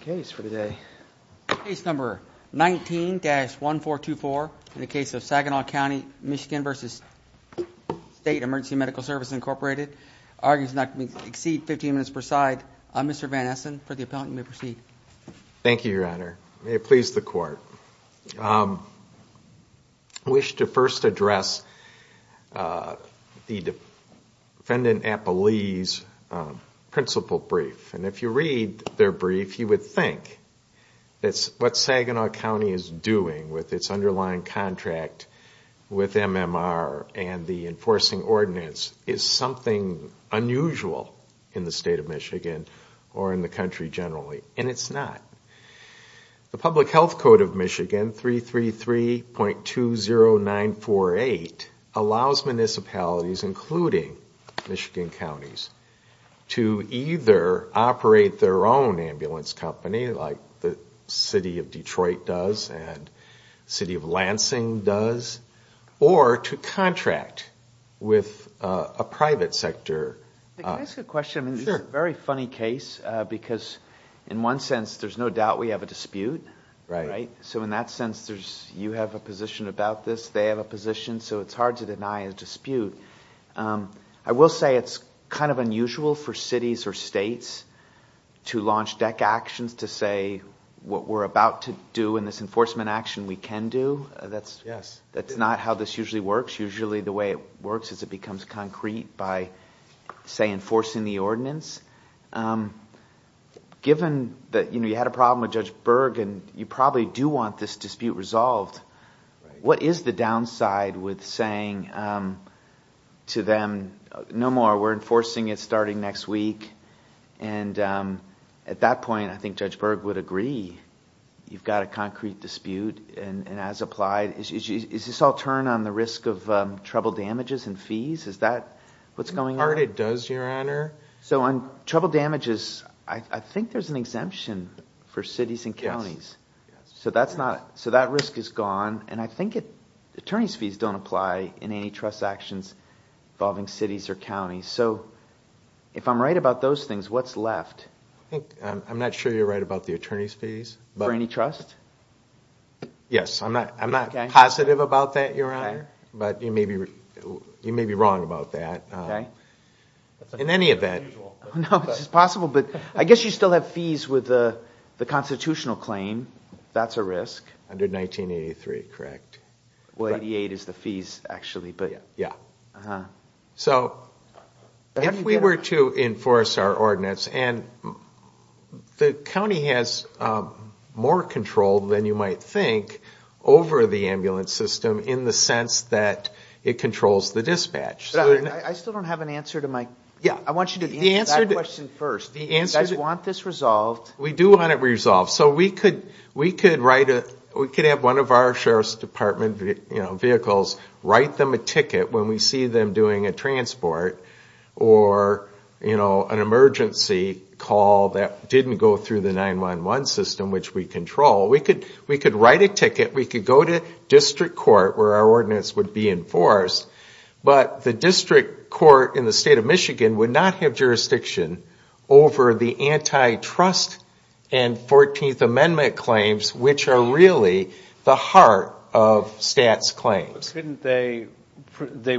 Incorporated, arguing it's not going to exceed 15 minutes per side. I'm Mr. Van Essen for the appellant. You may proceed. Thank you, Your Honor. May it please the court. I wish to first address the defendant, Apple Lee's principal brief. And if you read their brief, you would see that there is a lot of information in there. You would think that what Saginaw County is doing with its underlying contract with MMR and the enforcing ordinance is something unusual in the state of Michigan or in the country generally. And it's not. The Public Health Code of Michigan, 333.20948, allows municipalities, including Michigan counties, to either operate their own ambulance company, like the City of Detroit does and the City of Lansing does, or to contract with a private sector. Can I ask a question? This is a very funny case because in one sense, there's no doubt we have a dispute. So in that sense, you have a position about this, they have a position, so it's hard to deny a dispute. I will say it's kind of unusual for cities or states to launch deck actions to say what we're about to do in this enforcement action we can do. That's not how this usually works. Usually the way it works is it becomes concrete by, say, enforcing the ordinance. Given that you had a problem with Judge Berg and you probably do want this dispute resolved, what is the downside with saying to them, no more, we're enforcing it starting next week? And at that point, I think Judge Berg would agree you've got a concrete dispute and as applied. Is this all turned on the risk of trouble damages and fees? Is that what's going on? It does, Your Honor. So on trouble damages, I think there's an exemption for cities and counties. So that risk is gone, and I think attorneys' fees don't apply in any trust actions involving cities or counties. So if I'm right about those things, what's left? I'm not sure you're right about the attorneys' fees. For any trust? Yes, I'm not positive about that, Your Honor, but you may be wrong about that. That's unusual. No, it's possible, but I guess you still have fees with the constitutional claim. That's a risk. Under 1983, correct. Well, 88 is the fees, actually. So if we were to enforce our ordinance, and the county has more control than you might think over the ambulance system in the sense that it controls the dispatch. I still don't have an answer to my question. I want you to answer that question first. You guys want this resolved. We do want it resolved. So we could have one of our Sheriff's Department vehicles write them a ticket when we see them doing a transport or an emergency call that didn't go through the 911 system, which we control. We could write a ticket, we could go to district court where our ordinance would be enforced, but the district court in the state of Michigan would not have jurisdiction over the antitrust and 14th Amendment claims, which are really the heart of STAT's claims. They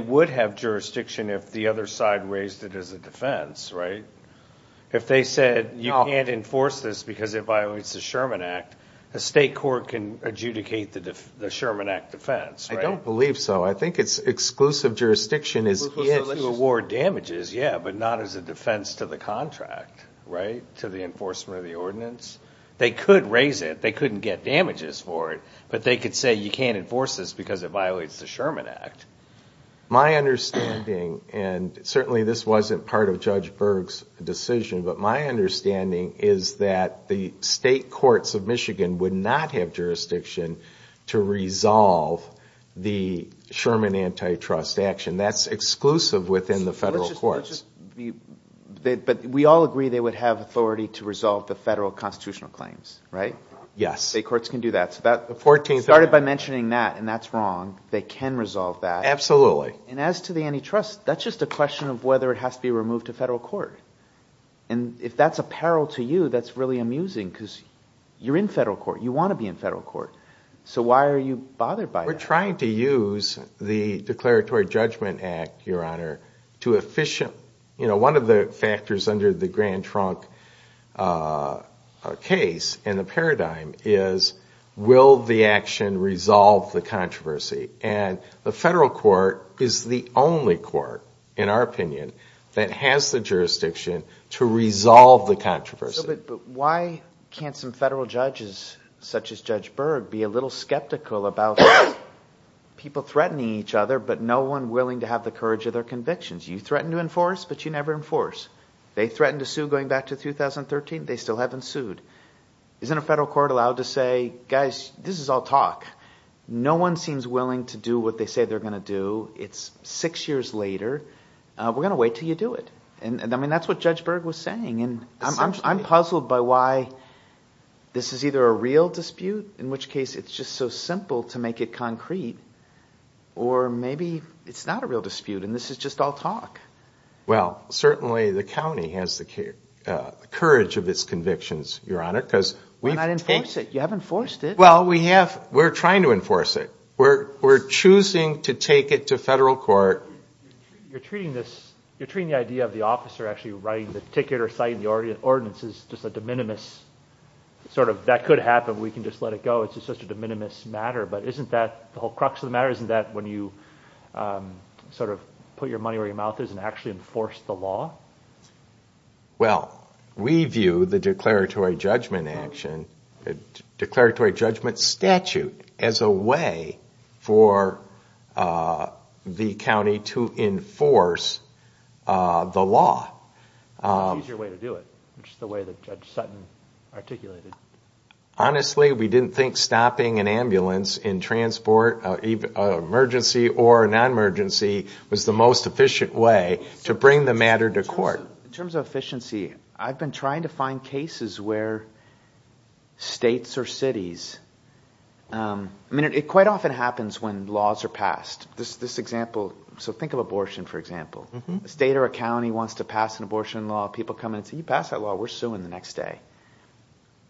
would have jurisdiction if the other side raised it as a defense, right? If they said you can't enforce this because it violates the Sherman Act, the state court can adjudicate the Sherman Act defense, right? I don't believe so. I think it's exclusive jurisdiction to award damages, yeah, but not as a defense to the contract, right, to the enforcement of the ordinance. They could raise it, they couldn't get damages for it, but they could say you can't enforce this because it violates the Sherman Act. My understanding, and certainly this wasn't part of Judge Berg's decision, but my understanding is that the state courts of Michigan would not have jurisdiction to resolve the Sherman antitrust action. That's exclusive within the federal courts. But we all agree they would have authority to resolve the federal constitutional claims, right? Yes. State courts can do that. The 14th Amendment. Started by mentioning that, and that's wrong. They can resolve that. Absolutely. And as to the antitrust, that's just a question of whether it has to be removed to federal court. And if that's a peril to you, that's really amusing because you're in federal court, you want to be in federal court. So why are you bothered by that? We're trying to use the Declaratory Judgment Act, Your Honor, to efficient, you know, one of the factors under the Grand Trunk case and the paradigm is will the action resolve the controversy? And the federal court is the only court, in our opinion, that has the jurisdiction to resolve the controversy. But why can't some federal judges, such as Judge Berg, be a little skeptical about people threatening each other, but no one willing to have the courage of their convictions? You threaten to enforce, but you never enforce. They threatened to sue going back to 2013. They still haven't sued. Isn't a federal court allowed to say, guys, this is all talk. No one seems willing to do what they say they're going to do. It's six years later. We're going to wait until you do it. And I mean, that's what Judge Berg was saying. And I'm puzzled by why this is either a real dispute, in which case it's just so simple to make it concrete, or maybe it's not a real dispute and this is just all talk. Well, certainly the county has the courage of its convictions, Your Honor, because we've taken... But not enforce it. You haven't enforced it. Well, we have. We're trying to enforce it. We're choosing to take it to federal court. You're treating the idea of the officer actually writing the ticket or citing the ordinance as just a de minimis, sort of, that could happen. We can just let it go. It's just such a de minimis matter. But isn't that the whole crux of the matter? Isn't that when you sort of put your money where your mouth is and actually enforce the law? Well, we view the declaratory judgment statute as a way for the county to enforce the law. Choose your way to do it, which is the way that Judge Sutton articulated. Honestly, we didn't think stopping an ambulance in transport, emergency or non-emergency, was the most efficient way to bring the matter to court. In terms of efficiency, I've been trying to find cases where states or cities... I mean, it quite often happens when laws are passed. So think of abortion, for example. A state or a county wants to pass an abortion law. People come in and say, you passed that law, we're suing the next day.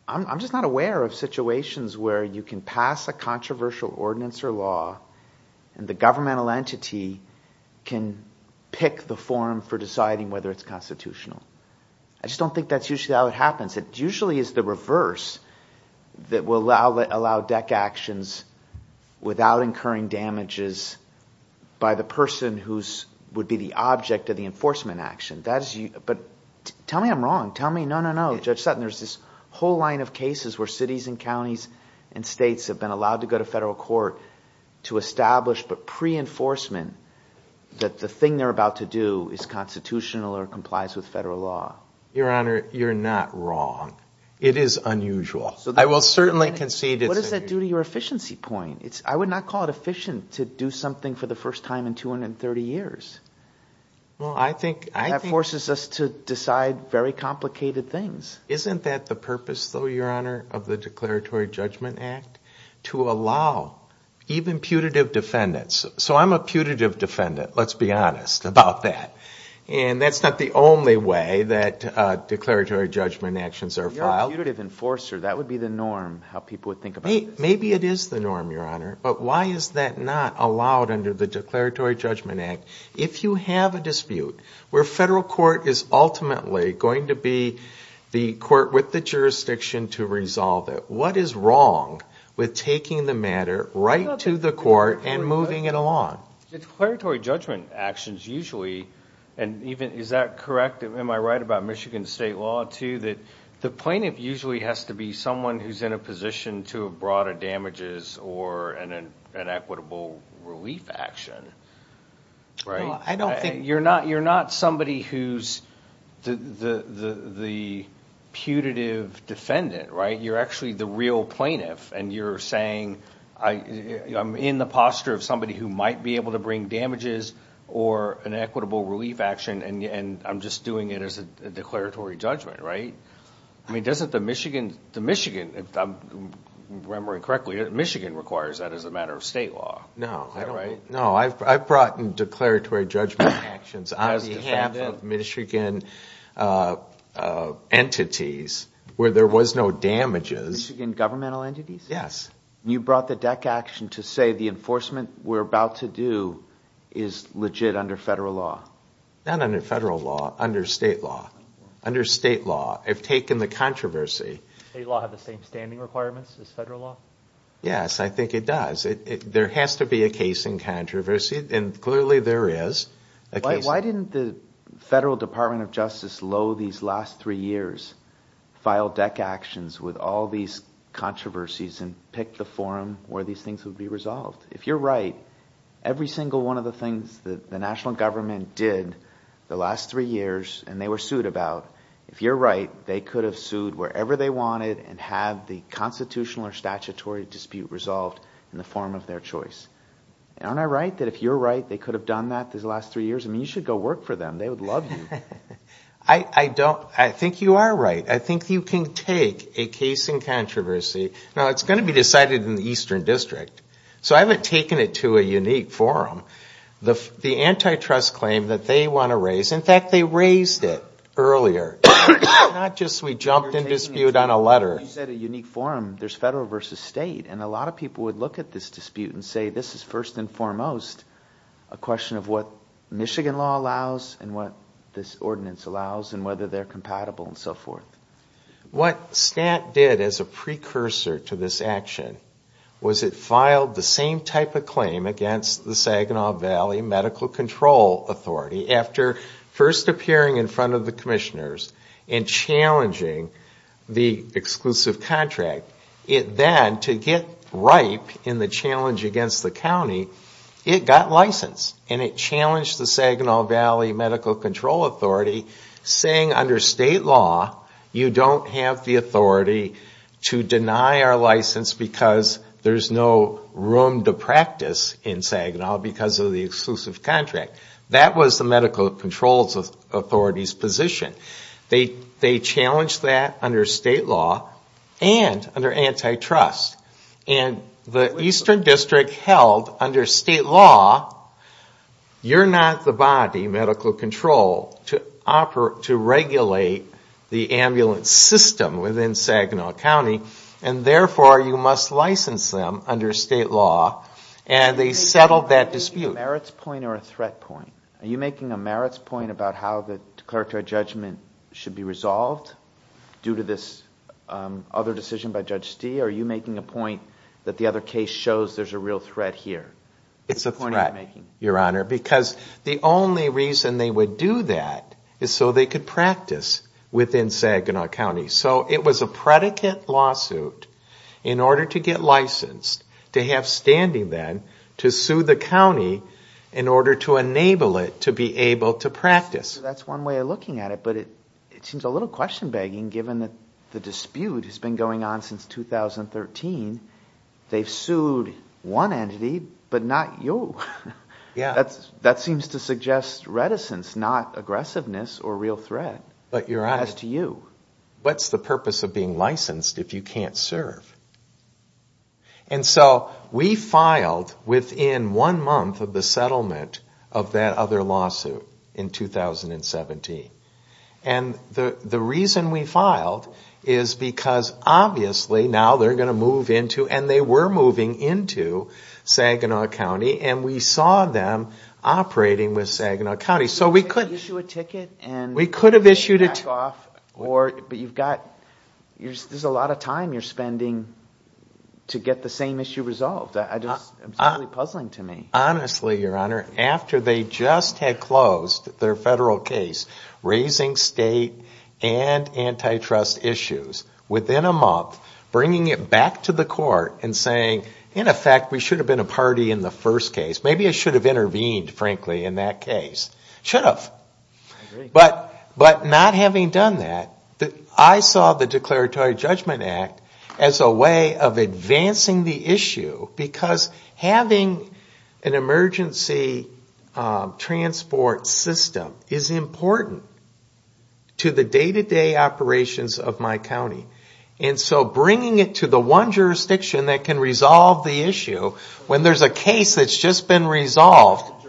I'm just not aware of situations where you can pass a controversial ordinance or law and the governmental entity can pick the forum for deciding whether it's constitutional. I just don't think that's usually how it happens. It usually is the reverse that will allow DEC actions without incurring damages by the person who would be the object of the enforcement action. But tell me I'm wrong. Tell me, no, no, no, Judge Sutton, there's this whole line of cases where cities and counties and states have been allowed to go to federal court to establish, but pre-enforcement, that the thing they're about to do is constitutional or complies with federal law. Your Honor, you're not wrong. It is unusual. I will certainly concede it's unusual. What does that do to your efficiency point? I would not call it efficient to do something for the first time in 230 years. That forces us to decide very complicated things. Isn't that the purpose, though, Your Honor, of the Declaratory Judgment Act? To allow even putative defendants. So I'm a putative defendant, let's be honest about that. And that's not the only way that declaratory judgment actions are filed. You're a putative enforcer. That would be the norm, how people would think about this. Maybe it is the norm, Your Honor, but why is that not allowed under the Declaratory Judgment Act? If you have a dispute where federal court is ultimately going to be the court with the jurisdiction to resolve it, what is wrong with taking the matter right to the court and moving it along? Declaratory judgment actions usually, and is that correct? Am I right about Michigan state law, too, that the plaintiff usually has to be someone who is in a position to have brought a damages or an equitable relief action? You're not somebody who's the putative defendant, right? You're actually the real plaintiff and you're saying I'm in the posture of somebody who might be able to bring damages or an equitable relief action and I'm just doing it as a declaratory judgment, right? I mean doesn't the Michigan, if I'm remembering correctly, Michigan requires that as a matter of state law. No, I've brought in declaratory judgment actions on behalf of Michigan entities where there was no damages. Michigan governmental entities? Yes. You brought the DEC action to say the enforcement we're about to do is legit under federal law? Not under federal law, under state law. Under state law. I've taken the controversy. State law have the same standing requirements as federal law? Yes, I think it does. There has to be a case in controversy and clearly there is. Why didn't the Federal Department of Justice lo these last three years file DEC actions with all these controversies and pick the forum where these things would be resolved? If you're right, every single one of the things that the national government did the last three years and they were sued about, if you're right, they could have sued wherever they wanted and have the constitutional or statutory dispute resolved in the form of their choice. Aren't I right that if you're right they could have done that these last three years? I mean you should go work for them. They would love you. I think you are right. I think you can take a case in controversy. Now it's going to be decided in the Eastern District. So I haven't taken it to a unique forum. The antitrust claim that they want to raise, in fact they raised it earlier. It's not just we jumped in dispute on a letter. You said a unique forum. There's federal versus state and a lot of people would look at this dispute and say this is first and foremost a question of what Michigan law allows and what this ordinance allows and whether they're compatible and so forth. What STAT did as a precursor to this action was it filed the same type of claim against the Saginaw Valley Medical Control Authority after first appearing in front of the commissioners and challenging the exclusive contract. It then, to get ripe in the challenge against the county, it got licensed and it challenged the Saginaw Valley Medical Control Authority saying under state law you don't have the authority to deny our license because there's no room to practice in Saginaw because of the exclusive contract. That was the Medical Control Authority's position. They challenged that under state law and under antitrust. And the Eastern District held under state law you're not the body, medical control, to regulate the ambulance system within Saginaw County and therefore you must license them under state law and they settled that dispute. Are you making a merits point or a threat point? Are you making a merits point about how the declaratory judgment should be resolved due to this other decision by Judge Stee or are you making a point that the other case shows there's a real threat here? It's a threat, Your Honor, because the only reason they would do that is so they could practice within Saginaw County. So it was a predicate lawsuit in order to get licensed to have standing then to sue the county in order to enable it to be able to practice. That's one way of looking at it but it seems a little question begging given that the dispute has been going on since 2013. They've sued one entity but not you. That seems to suggest reticence, not aggressiveness or real threat as to you. What's the purpose of being licensed if you can't serve? And so we filed within one month of the settlement of that other lawsuit in 2017. And the reason we filed is because obviously now they're going to move into and they were moving into Saginaw County and we saw them operating with Saginaw County. We could have issued a ticket and back off but there's a lot of time you're spending to get the same issue resolved. It's really puzzling to me. Honestly, Your Honor, after they just had closed their federal case, raising state and antitrust issues within a month, bringing it back to the court and saying, in effect, we should have been a party in the first case. Maybe I should have intervened, frankly, in that case. I should have. But not having done that, I saw the Declaratory Judgment Act as a way of advancing the issue because having an emergency transport system is important to the day-to-day operations of my county. And so bringing it to the one jurisdiction that can resolve the issue when there's a case that's just been resolved.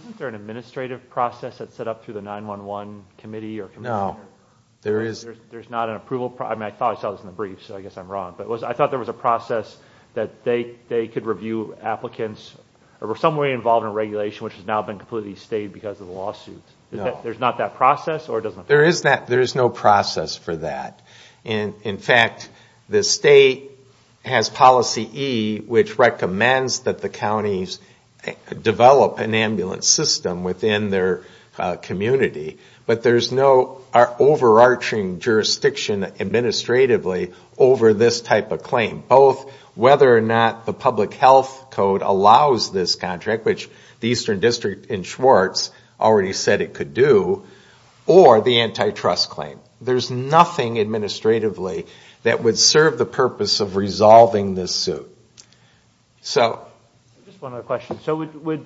Isn't there an administrative process that's set up through the 9-1-1 committee? No, there isn't. There's not an approval process? I mean, I thought I saw this in the brief so I guess I'm wrong. But I thought there was a process that they could review applicants or were some way involved in regulation which has now been completely stayed because of the lawsuits. No. There's not that process? There is no process for that. In fact, the state has policy E which recommends that the counties develop an ambulance system within their community. But there's no overarching jurisdiction administratively over this type of claim. Both whether or not the public health code allows this contract, which the Eastern District in Schwartz already said it could do, or the antitrust claim. There's nothing administratively that would serve the purpose of resolving this suit. Just one other question. So would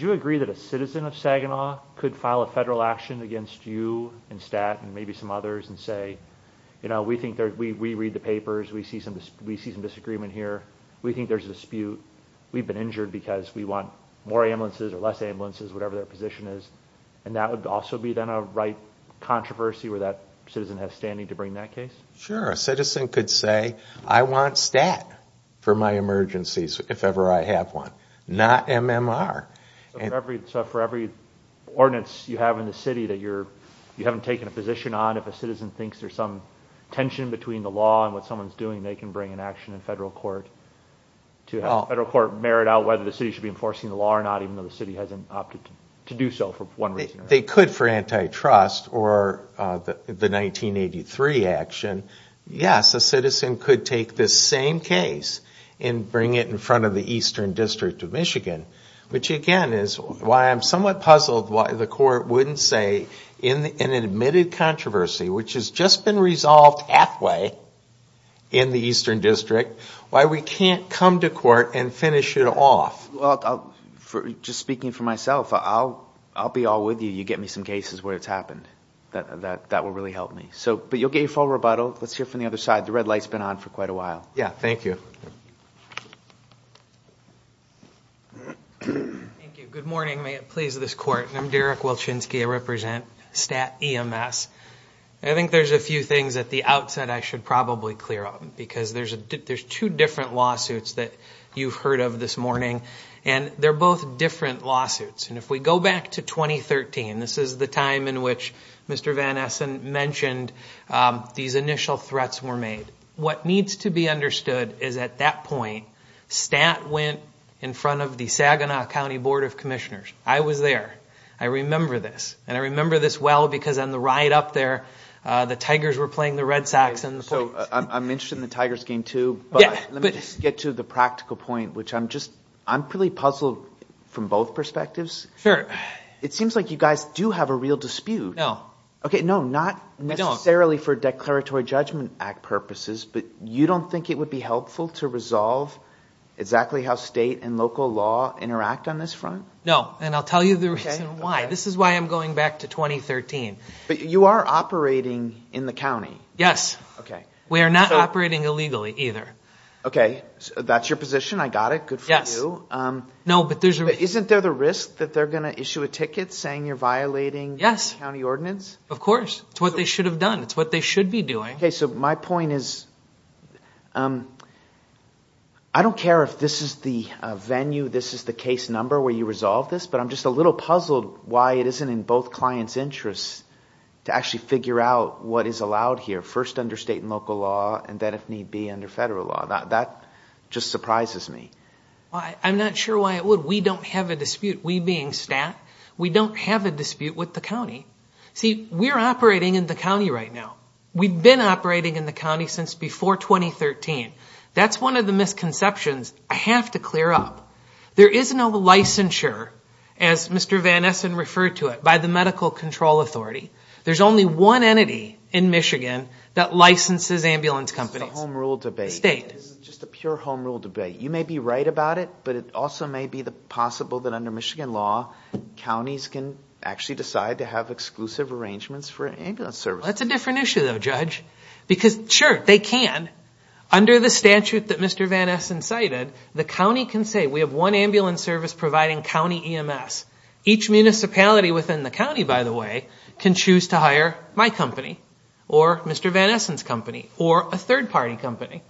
you agree that a citizen of Saginaw could file a federal action against you and STAT and maybe some others and say, you know, we read the papers, we see some disagreement here, we think there's a dispute, we've been injured because we want more ambulances or less ambulances, whatever their position is. And that would also be then a right controversy where that citizen has standing to bring that case? Sure. A citizen could say, I want STAT for my emergencies if ever I have one. Not MMR. So for every ordinance you have in the city that you haven't taken a position on, if a citizen thinks there's some tension between the law and what someone's doing, they can bring an action in federal court to have federal court merit out whether the city should be enforcing the law or not even though the city hasn't opted to do so for one reason or another? But they could for antitrust or the 1983 action. Yes, a citizen could take this same case and bring it in front of the Eastern District of Michigan, which again is why I'm somewhat puzzled why the court wouldn't say in an admitted controversy, which has just been resolved halfway in the Eastern District, why we can't come to court and finish it off? Just speaking for myself, I'll be all with you. You get me some cases where it's happened. That will really help me. But you'll get your full rebuttal. Let's hear from the other side. The red light's been on for quite a while. Yeah, thank you. Thank you. Good morning. May it please this court. I'm Derek Wilchinsky. I represent STAT EMS. I think there's a few things at the outset I should probably clear up because there's two different lawsuits that you've heard of this morning. And they're both different lawsuits. And if we go back to 2013, this is the time in which Mr. Van Essen mentioned these initial threats were made. What needs to be understood is at that point, STAT went in front of the Saginaw County Board of Commissioners. I was there. I remember this. And I remember this well because on the ride up there, the Tigers were playing the Red Sox. I'm interested in the Tigers game, too. But let me just get to the practical point, which I'm just – I'm really puzzled from both perspectives. Sure. It seems like you guys do have a real dispute. No. No, not necessarily for Declaratory Judgment Act purposes, but you don't think it would be helpful to resolve exactly how state and local law interact on this front? No. And I'll tell you the reason why. This is why I'm going back to 2013. But you are operating in the county. Yes. We are not operating illegally either. Okay. That's your position. I got it. Good for you. Yes. No, but there's a – Isn't there the risk that they're going to issue a ticket saying you're violating the county ordinance? Yes. Of course. It's what they should have done. It's what they should be doing. Okay. So my point is I don't care if this is the venue, this is the case number where you resolve this, but I'm just a little puzzled why it isn't in both clients' interests to actually figure out what is allowed here, first under state and local law and then, if need be, under federal law. That just surprises me. I'm not sure why it would. We don't have a dispute, we being stat. We don't have a dispute with the county. See, we're operating in the county right now. We've been operating in the county since before 2013. That's one of the misconceptions I have to clear up. There is no licensure, as Mr. Van Essen referred to it, by the Medical Control Authority. There's only one entity in Michigan that licenses ambulance companies. This is a home rule debate. State. This is just a pure home rule debate. You may be right about it, but it also may be possible that under Michigan law, counties can actually decide to have exclusive arrangements for ambulance services. That's a different issue, though, Judge. Because, sure, they can. Under the statute that Mr. Van Essen cited, the county can say, we have one ambulance service providing county EMS. Each municipality within the county, by the way, can choose to hire my company, or Mr. Van Essen's company, or a third party company.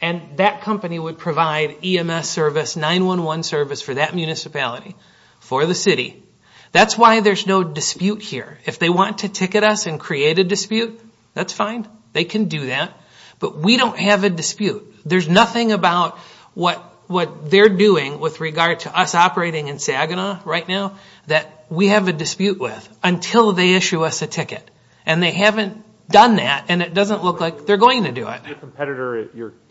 And that company would provide EMS service, 911 service for that municipality, for the city. That's why there's no dispute here. If they want to ticket us and create a dispute, that's fine. They can do that. But we don't have a dispute. There's nothing about what they're doing with regard to us operating in Saginaw right now that we have a dispute with until they issue us a ticket. And they haven't done that, and it doesn't look like they're going to do it. Your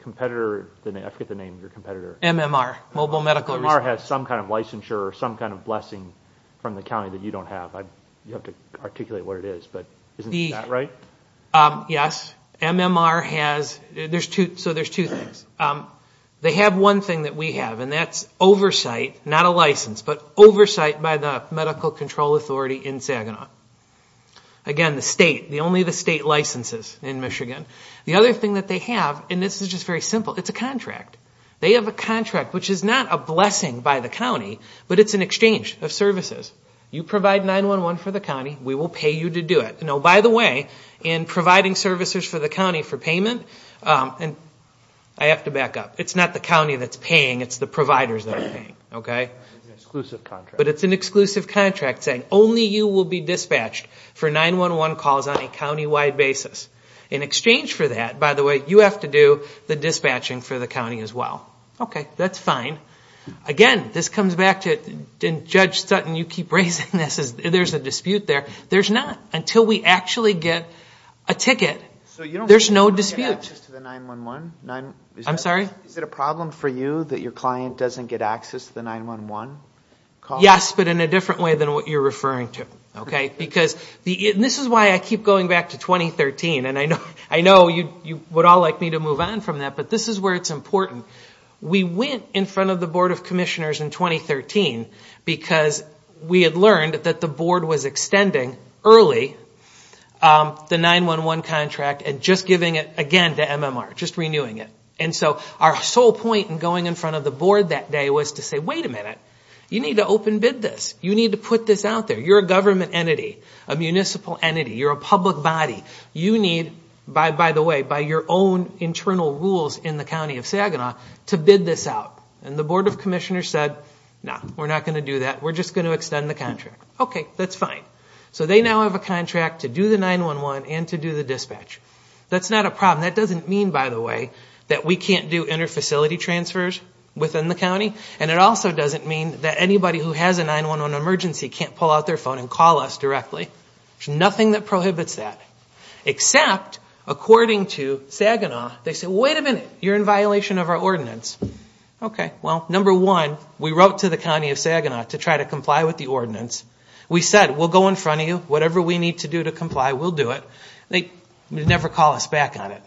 competitor, I forget the name of your competitor. MMR, Mobile Medical Resources. MMR has some kind of licensure or some kind of blessing from the county that you don't have. You have to articulate what it is, but isn't that right? Yes. MMR has, so there's two things. They have one thing that we have, and that's oversight, not a license, but oversight by the medical control authority in Saginaw. Again, the state, only the state licenses in Michigan. The other thing that they have, and this is just very simple, it's a contract. They have a contract, which is not a blessing by the county, but it's an exchange of services. You provide 911 for the county, we will pay you to do it. Now, by the way, in providing services for the county for payment, and I have to back up. It's not the county that's paying, it's the providers that are paying. Okay? It's an exclusive contract. But it's an exclusive contract saying only you will be dispatched for 911 calls on a county-wide basis. In exchange for that, by the way, you have to do the dispatching for the county as well. Okay, that's fine. Again, this comes back to, and Judge Sutton, you keep raising this, there's a dispute there. There's not. Until we actually get a ticket, there's no dispute. So you don't get access to the 911? I'm sorry? Is it a problem for you that your client doesn't get access to the 911 calls? Yes, but in a different way than what you're referring to. Okay? Because this is why I keep going back to 2013, and I know you would all like me to move on from that, but this is where it's important. We went in front of the Board of Commissioners in 2013 because we had learned that the Board was extending early the 911 contract and just giving it again to MMR, just renewing it. And so our sole point in going in front of the Board that day was to say, wait a minute, you need to open bid this. You need to put this out there. You're a government entity, a municipal entity. You're a public body. You need, by the way, by your own internal rules in the County of Saginaw to bid this out. And the Board of Commissioners said, no, we're not going to do that. We're just going to extend the contract. Okay, that's fine. So they now have a contract to do the 911 and to do the dispatch. That's not a problem. That doesn't mean, by the way, that we can't do inter-facility transfers within the county, and it also doesn't mean that anybody who has a 911 emergency can't pull out their phone and call us directly. There's nothing that prohibits that. Except, according to Saginaw, they said, wait a minute, you're in violation of our ordinance. Okay, well, number one, we wrote to the County of Saginaw to try to comply with the ordinance. We said, we'll go in front of you. Whatever we need to do to comply, we'll do it. They never call us back on it.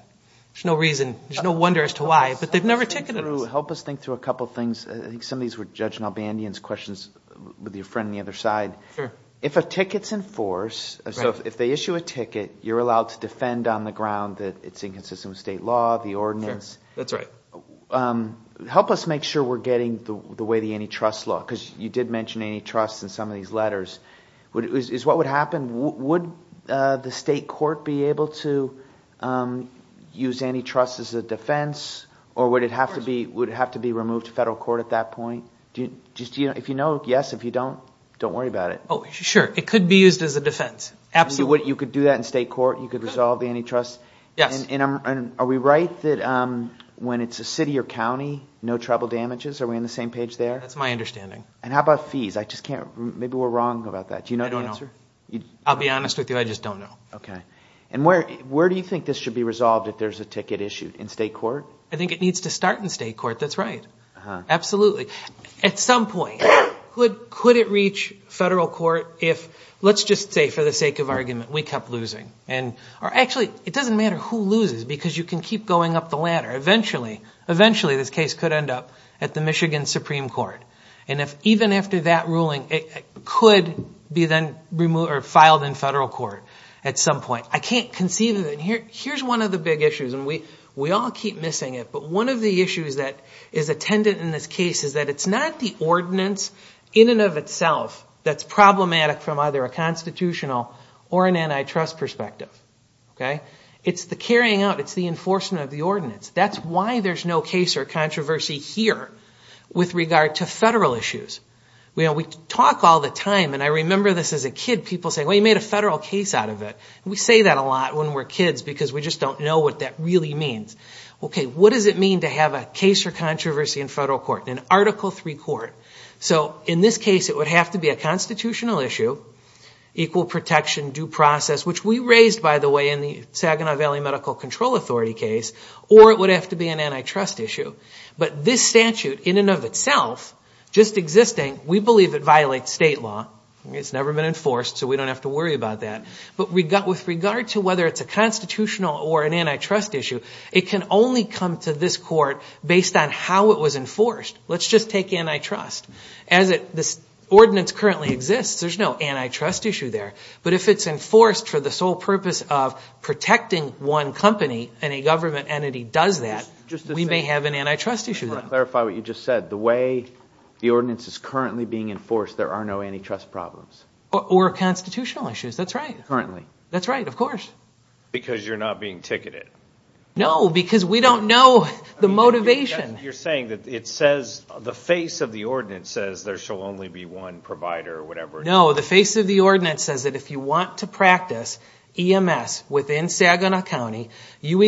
There's no reason, there's no wonder as to why, but they've never ticketed us. Help us think through a couple things. I think some of these were Judge Nalbandian's questions with your friend on the other side. Sure. If a ticket's in force, so if they issue a ticket, you're allowed to defend on the ground that it's inconsistent with state law, the ordinance. That's right. Help us make sure we're getting the way the antitrust law, because you did mention antitrust in some of these letters. Is what would happen, would the state court be able to use antitrust as a defense, or would it have to be removed to federal court at that point? If you know, yes. If you don't, don't worry about it. Sure. It could be used as a defense. Absolutely. You could do that in state court? You could resolve the antitrust? Yes. Are we right that when it's a city or county, no trouble damages? Are we on the same page there? That's my understanding. How about fees? Maybe we're wrong about that. Do you know the answer? I don't know. I'll be honest with you, I just don't know. Okay. Where do you think this should be resolved if there's a ticket issued? In state court? I think it needs to start in state court. That's right. Absolutely. At some point, could it reach federal court if, let's just say for the sake of argument, we kept losing? Actually, it doesn't matter who loses because you can keep going up the ladder. Eventually, this case could end up at the Michigan Supreme Court. Even after that ruling, it could be then filed in federal court at some point. I can't conceive of it. Here's one of the big issues, and we all keep missing it, but one of the issues that is attendant in this case is that it's not the ordinance in and of itself that's problematic from either a constitutional or an antitrust perspective. It's the carrying out. It's the enforcement of the ordinance. That's why there's no case or controversy here with regard to federal issues. We talk all the time, and I remember this as a kid. People say, well, you made a federal case out of it. We say that a lot when we're kids because we just don't know what that really means. What does it mean to have a case or controversy in federal court, an Article III court? In this case, it would have to be a constitutional issue, equal protection, due process, which we raised, by the way, in the Saginaw Valley Medical Control Authority case, or it would have to be an antitrust issue. But this statute in and of itself, just existing, we believe it violates state law. It's never been enforced, so we don't have to worry about that. But with regard to whether it's a constitutional or an antitrust issue, it can only come to this court based on how it was enforced. Let's just take antitrust. As this ordinance currently exists, there's no antitrust issue there, but if it's enforced for the sole purpose of protecting one company and a government entity does that, we may have an antitrust issue. I want to clarify what you just said. The way the ordinance is currently being enforced, there are no antitrust problems. Or constitutional issues. That's right. Currently. That's right, of course. Because you're not being ticketed. No, because we don't know the motivation. You're saying that it says, the face of the ordinance says, there shall only be one provider or whatever. No, the face of the ordinance says that if you want to practice EMS within Saginaw County, you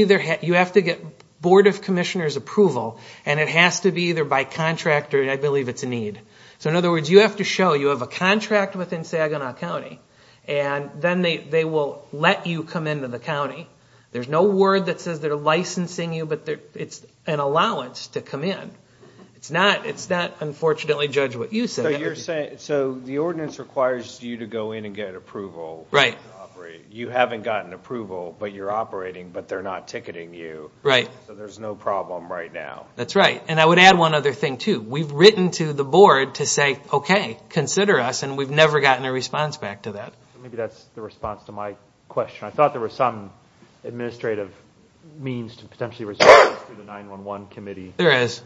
have to get Board of Commissioners' approval, and it has to be either by contractor, and I believe it's a need. So in other words, you have to show you have a contract within Saginaw County and then they will let you come into the county. There's no word that says they're licensing you, but it's an allowance to come in. It's not, unfortunately, judge what you said. So the ordinance requires you to go in and get approval. Right. You haven't gotten approval, but you're operating, but they're not ticketing you. Right. So there's no problem right now. That's right. And I would add one other thing, too. We've written to the board to say, okay, consider us, and we've never gotten a response back to that. Maybe that's the response to my question. I thought there was some administrative means to potentially respond to the 911 committee. There is.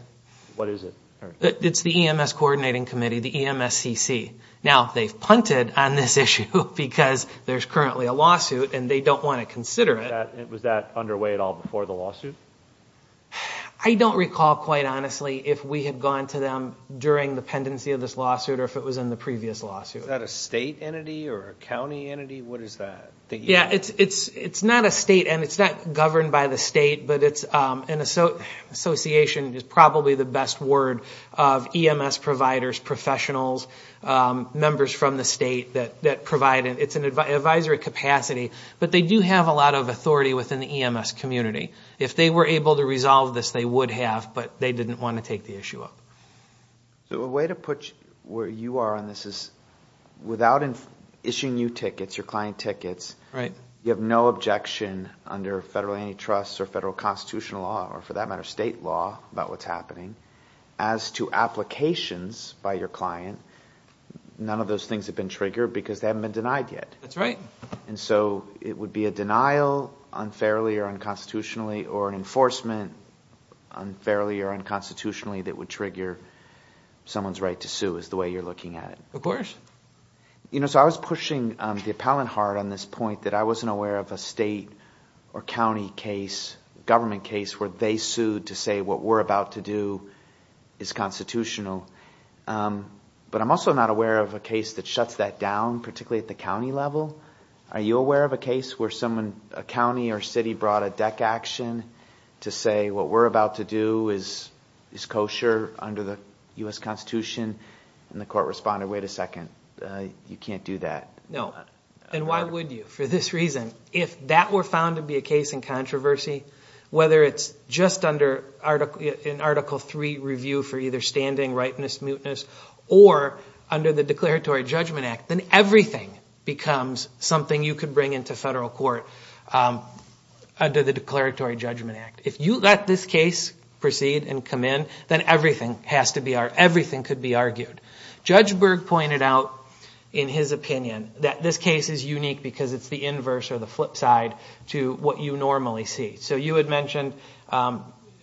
What is it? It's the EMS Coordinating Committee, the EMSCC. Now, they've punted on this issue because there's currently a lawsuit Was that underway at all before the lawsuit? I don't recall, quite honestly, if we had gone to them during the pendency of this lawsuit or if it was in the previous lawsuit. Is that a state entity or a county entity? What is that? Yeah, it's not a state entity. It's not governed by the state, but it's an association. It's probably the best word of EMS providers, professionals, members from the state that provide it. It's an advisory capacity, but they do have a lot of authority within the EMS community. If they were able to resolve this, they would have, but they didn't want to take the issue up. A way to put where you are on this is without issuing you tickets, your client tickets, you have no objection under federal antitrust or federal constitutional law or, for that matter, state law about what's happening. As to applications by your client, none of those things have been triggered because they haven't been denied yet. That's right. It would be a denial unfairly or unconstitutionally or an enforcement unfairly or unconstitutionally that would trigger someone's right to sue is the way you're looking at it. Of course. I was pushing the appellant hard on this point that I wasn't aware of a state or county case, government case where they sued to say what we're about to do is constitutional, but I'm also not aware of a case that shuts that down, particularly at the county level. Are you aware of a case where a county or city brought a deck action to say what we're about to do is kosher under the U.S. Constitution, and the court responded, wait a second, you can't do that? No, and why would you? For this reason, if that were found to be a case in controversy, whether it's just in Article III review for either standing, rightness, muteness, or under the Declaratory Judgment Act, then everything becomes something you could bring into federal court under the Declaratory Judgment Act. If you let this case proceed and come in, then everything could be argued. Judge Berg pointed out in his opinion that this case is unique because it's the inverse or the flip side to what you normally see. So you had mentioned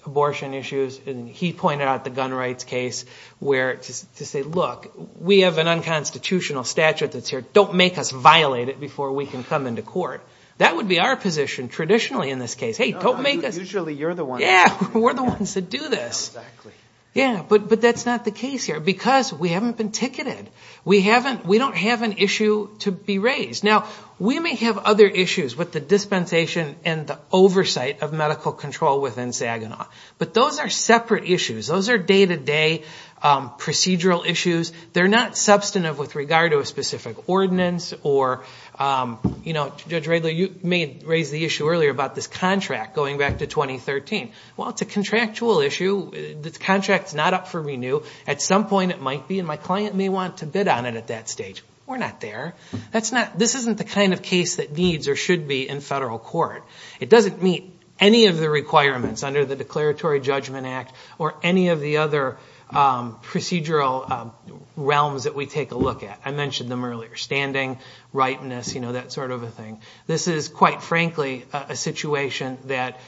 abortion issues, and he pointed out the gun rights case where to say, look, we have an unconstitutional statute that's here. Don't make us violate it before we can come into court. That would be our position traditionally in this case. Hey, don't make us. Usually you're the one. Yeah, we're the ones that do this. Exactly. Yeah, but that's not the case here because we haven't been ticketed. We don't have an issue to be raised. Now, we may have other issues with the dispensation and the oversight of medical control within Saginaw, but those are separate issues. Those are day-to-day procedural issues. They're not substantive with regard to a specific ordinance or, you know, Judge Radley, you may have raised the issue earlier about this contract going back to 2013. Well, it's a contractual issue. The contract's not up for renew. At some point it might be, and my client may want to bid on it at that stage. We're not there. This isn't the kind of case that needs or should be in federal court. It doesn't meet any of the requirements under the Declaratory Judgment Act or any of the other procedural realms that we take a look at. I mentioned them earlier, standing, rightness, you know, that sort of a thing. This is, quite frankly, a situation that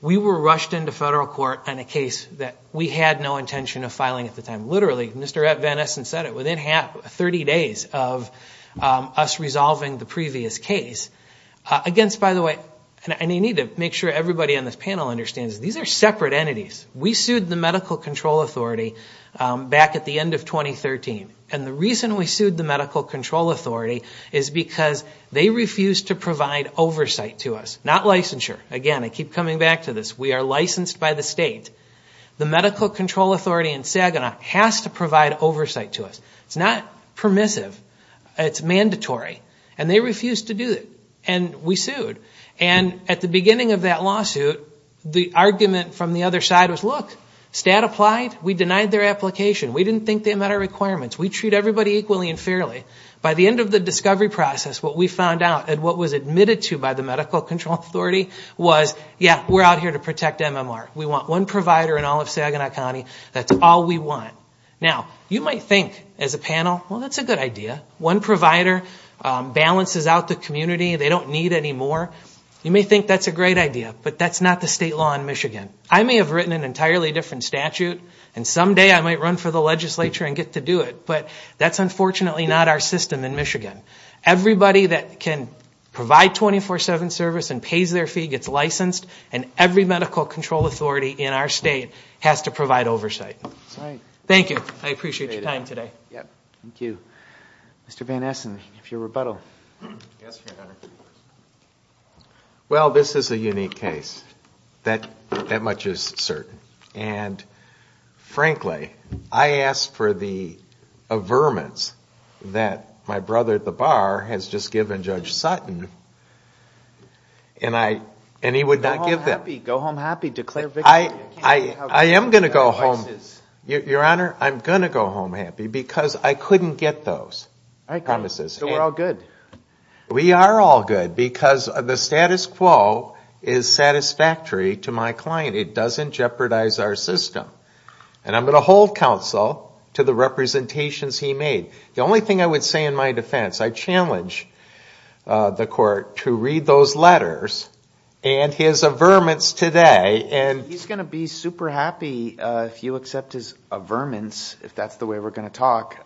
we were rushed into federal court on a case that we had no intention of filing at the time. Literally, Mr. Van Essen said it, within 30 days of us resolving the previous case. Against, by the way, and I need to make sure everybody on this panel understands, these are separate entities. We sued the Medical Control Authority back at the end of 2013, and the reason we sued the Medical Control Authority is because they refused to provide oversight to us, not licensure. Again, I keep coming back to this. We are licensed by the state. The Medical Control Authority in Saginaw has to provide oversight to us. It's not permissive. It's mandatory, and they refused to do it, and we sued. And at the beginning of that lawsuit, the argument from the other side was, look, stat applied, we denied their application. We didn't think they met our requirements. We treat everybody equally and fairly. By the end of the discovery process, what we found out, and what was admitted to by the Medical Control Authority was, yeah, we're out here to protect MMR. We want one provider in all of Saginaw County. That's all we want. Now, you might think as a panel, well, that's a good idea. One provider balances out the community. They don't need any more. You may think that's a great idea, but that's not the state law in Michigan. I may have written an entirely different statute, and someday I might run for the legislature and get to do it, but that's unfortunately not our system in Michigan. Everybody that can provide 24-7 service and pays their fee gets licensed, and every Medical Control Authority in our state has to provide oversight. Thank you. I appreciate your time today. Thank you. Mr. Van Essen, if you'll rebuttal. Well, this is a unique case. That much is certain. Frankly, I asked for the averments that my brother at the bar has just given Judge Sutton, and he would not give them. Go home happy. Go home happy. Declare victory. I am going to go home. Your Honor, I'm going to go home happy because I couldn't get those promises. So we're all good. We are all good because the status quo is satisfactory to my client. It doesn't jeopardize our system, and I'm going to hold counsel to the representations he made. The only thing I would say in my defense, I challenge the Court to read those letters and his averments today. He's going to be super happy if you accept his averments, if that's the way we're going to talk,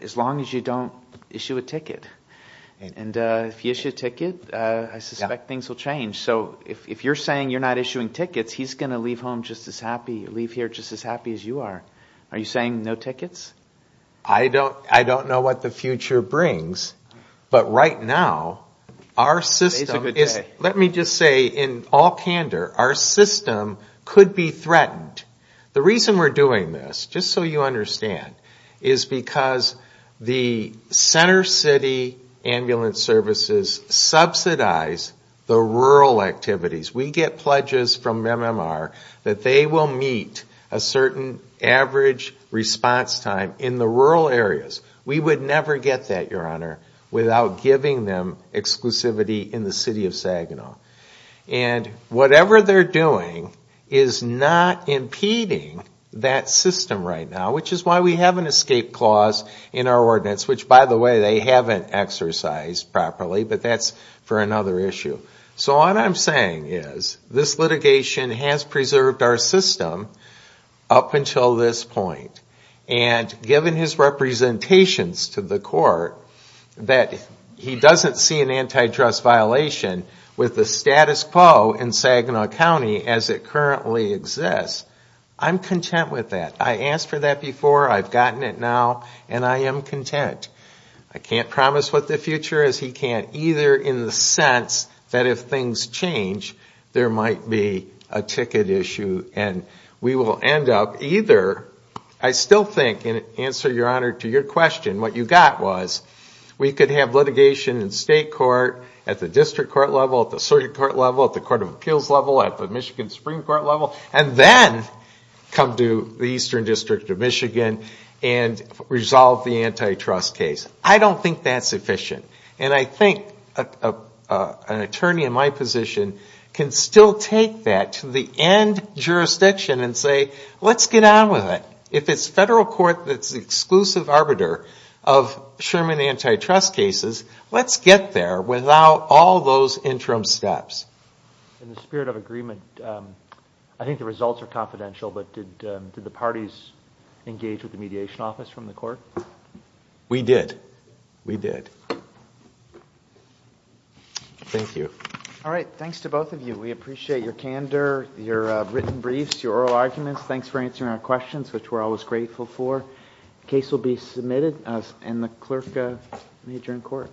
as long as you don't issue a ticket. And if you issue a ticket, I suspect things will change. So if you're saying you're not issuing tickets, he's going to leave here just as happy as you are. Are you saying no tickets? I don't know what the future brings, but right now our system is, let me just say in all candor, our system could be threatened. The reason we're doing this, just so you understand, is because the Center City Ambulance Services subsidize the rural activities. We get pledges from MMR that they will meet a certain average response time in the rural areas. We would never get that, Your Honor, without giving them exclusivity in the City of Saginaw. And whatever they're doing is not impeding that system right now, which is why we have an escape clause in our ordinance, which, by the way, they haven't exercised properly, but that's for another issue. So what I'm saying is this litigation has preserved our system up until this point. And given his representations to the court, that he doesn't see an antitrust violation with the status quo in Saginaw County as it currently exists, I'm content with that. I asked for that before, I've gotten it now, and I am content. I can't promise what the future is. He can't either in the sense that if things change there might be a ticket issue and we will end up either. I still think, in answer, Your Honor, to your question, what you got was we could have litigation in state court, at the district court level, at the circuit court level, at the court of appeals level, at the Michigan Supreme Court level, and then come to the Eastern District of Michigan and resolve the antitrust case. I don't think that's efficient. And I think an attorney in my position can still take that to the end jurisdiction and say, let's get on with it. If it's federal court that's the exclusive arbiter of Sherman antitrust cases, let's get there without all those interim steps. In the spirit of agreement, I think the results are confidential, We did. We did. Thank you. All right. Thanks to both of you. We appreciate your candor, your written briefs, your oral arguments. Thanks for answering our questions, which we're always grateful for. The case will be submitted, and the clerk may adjourn court.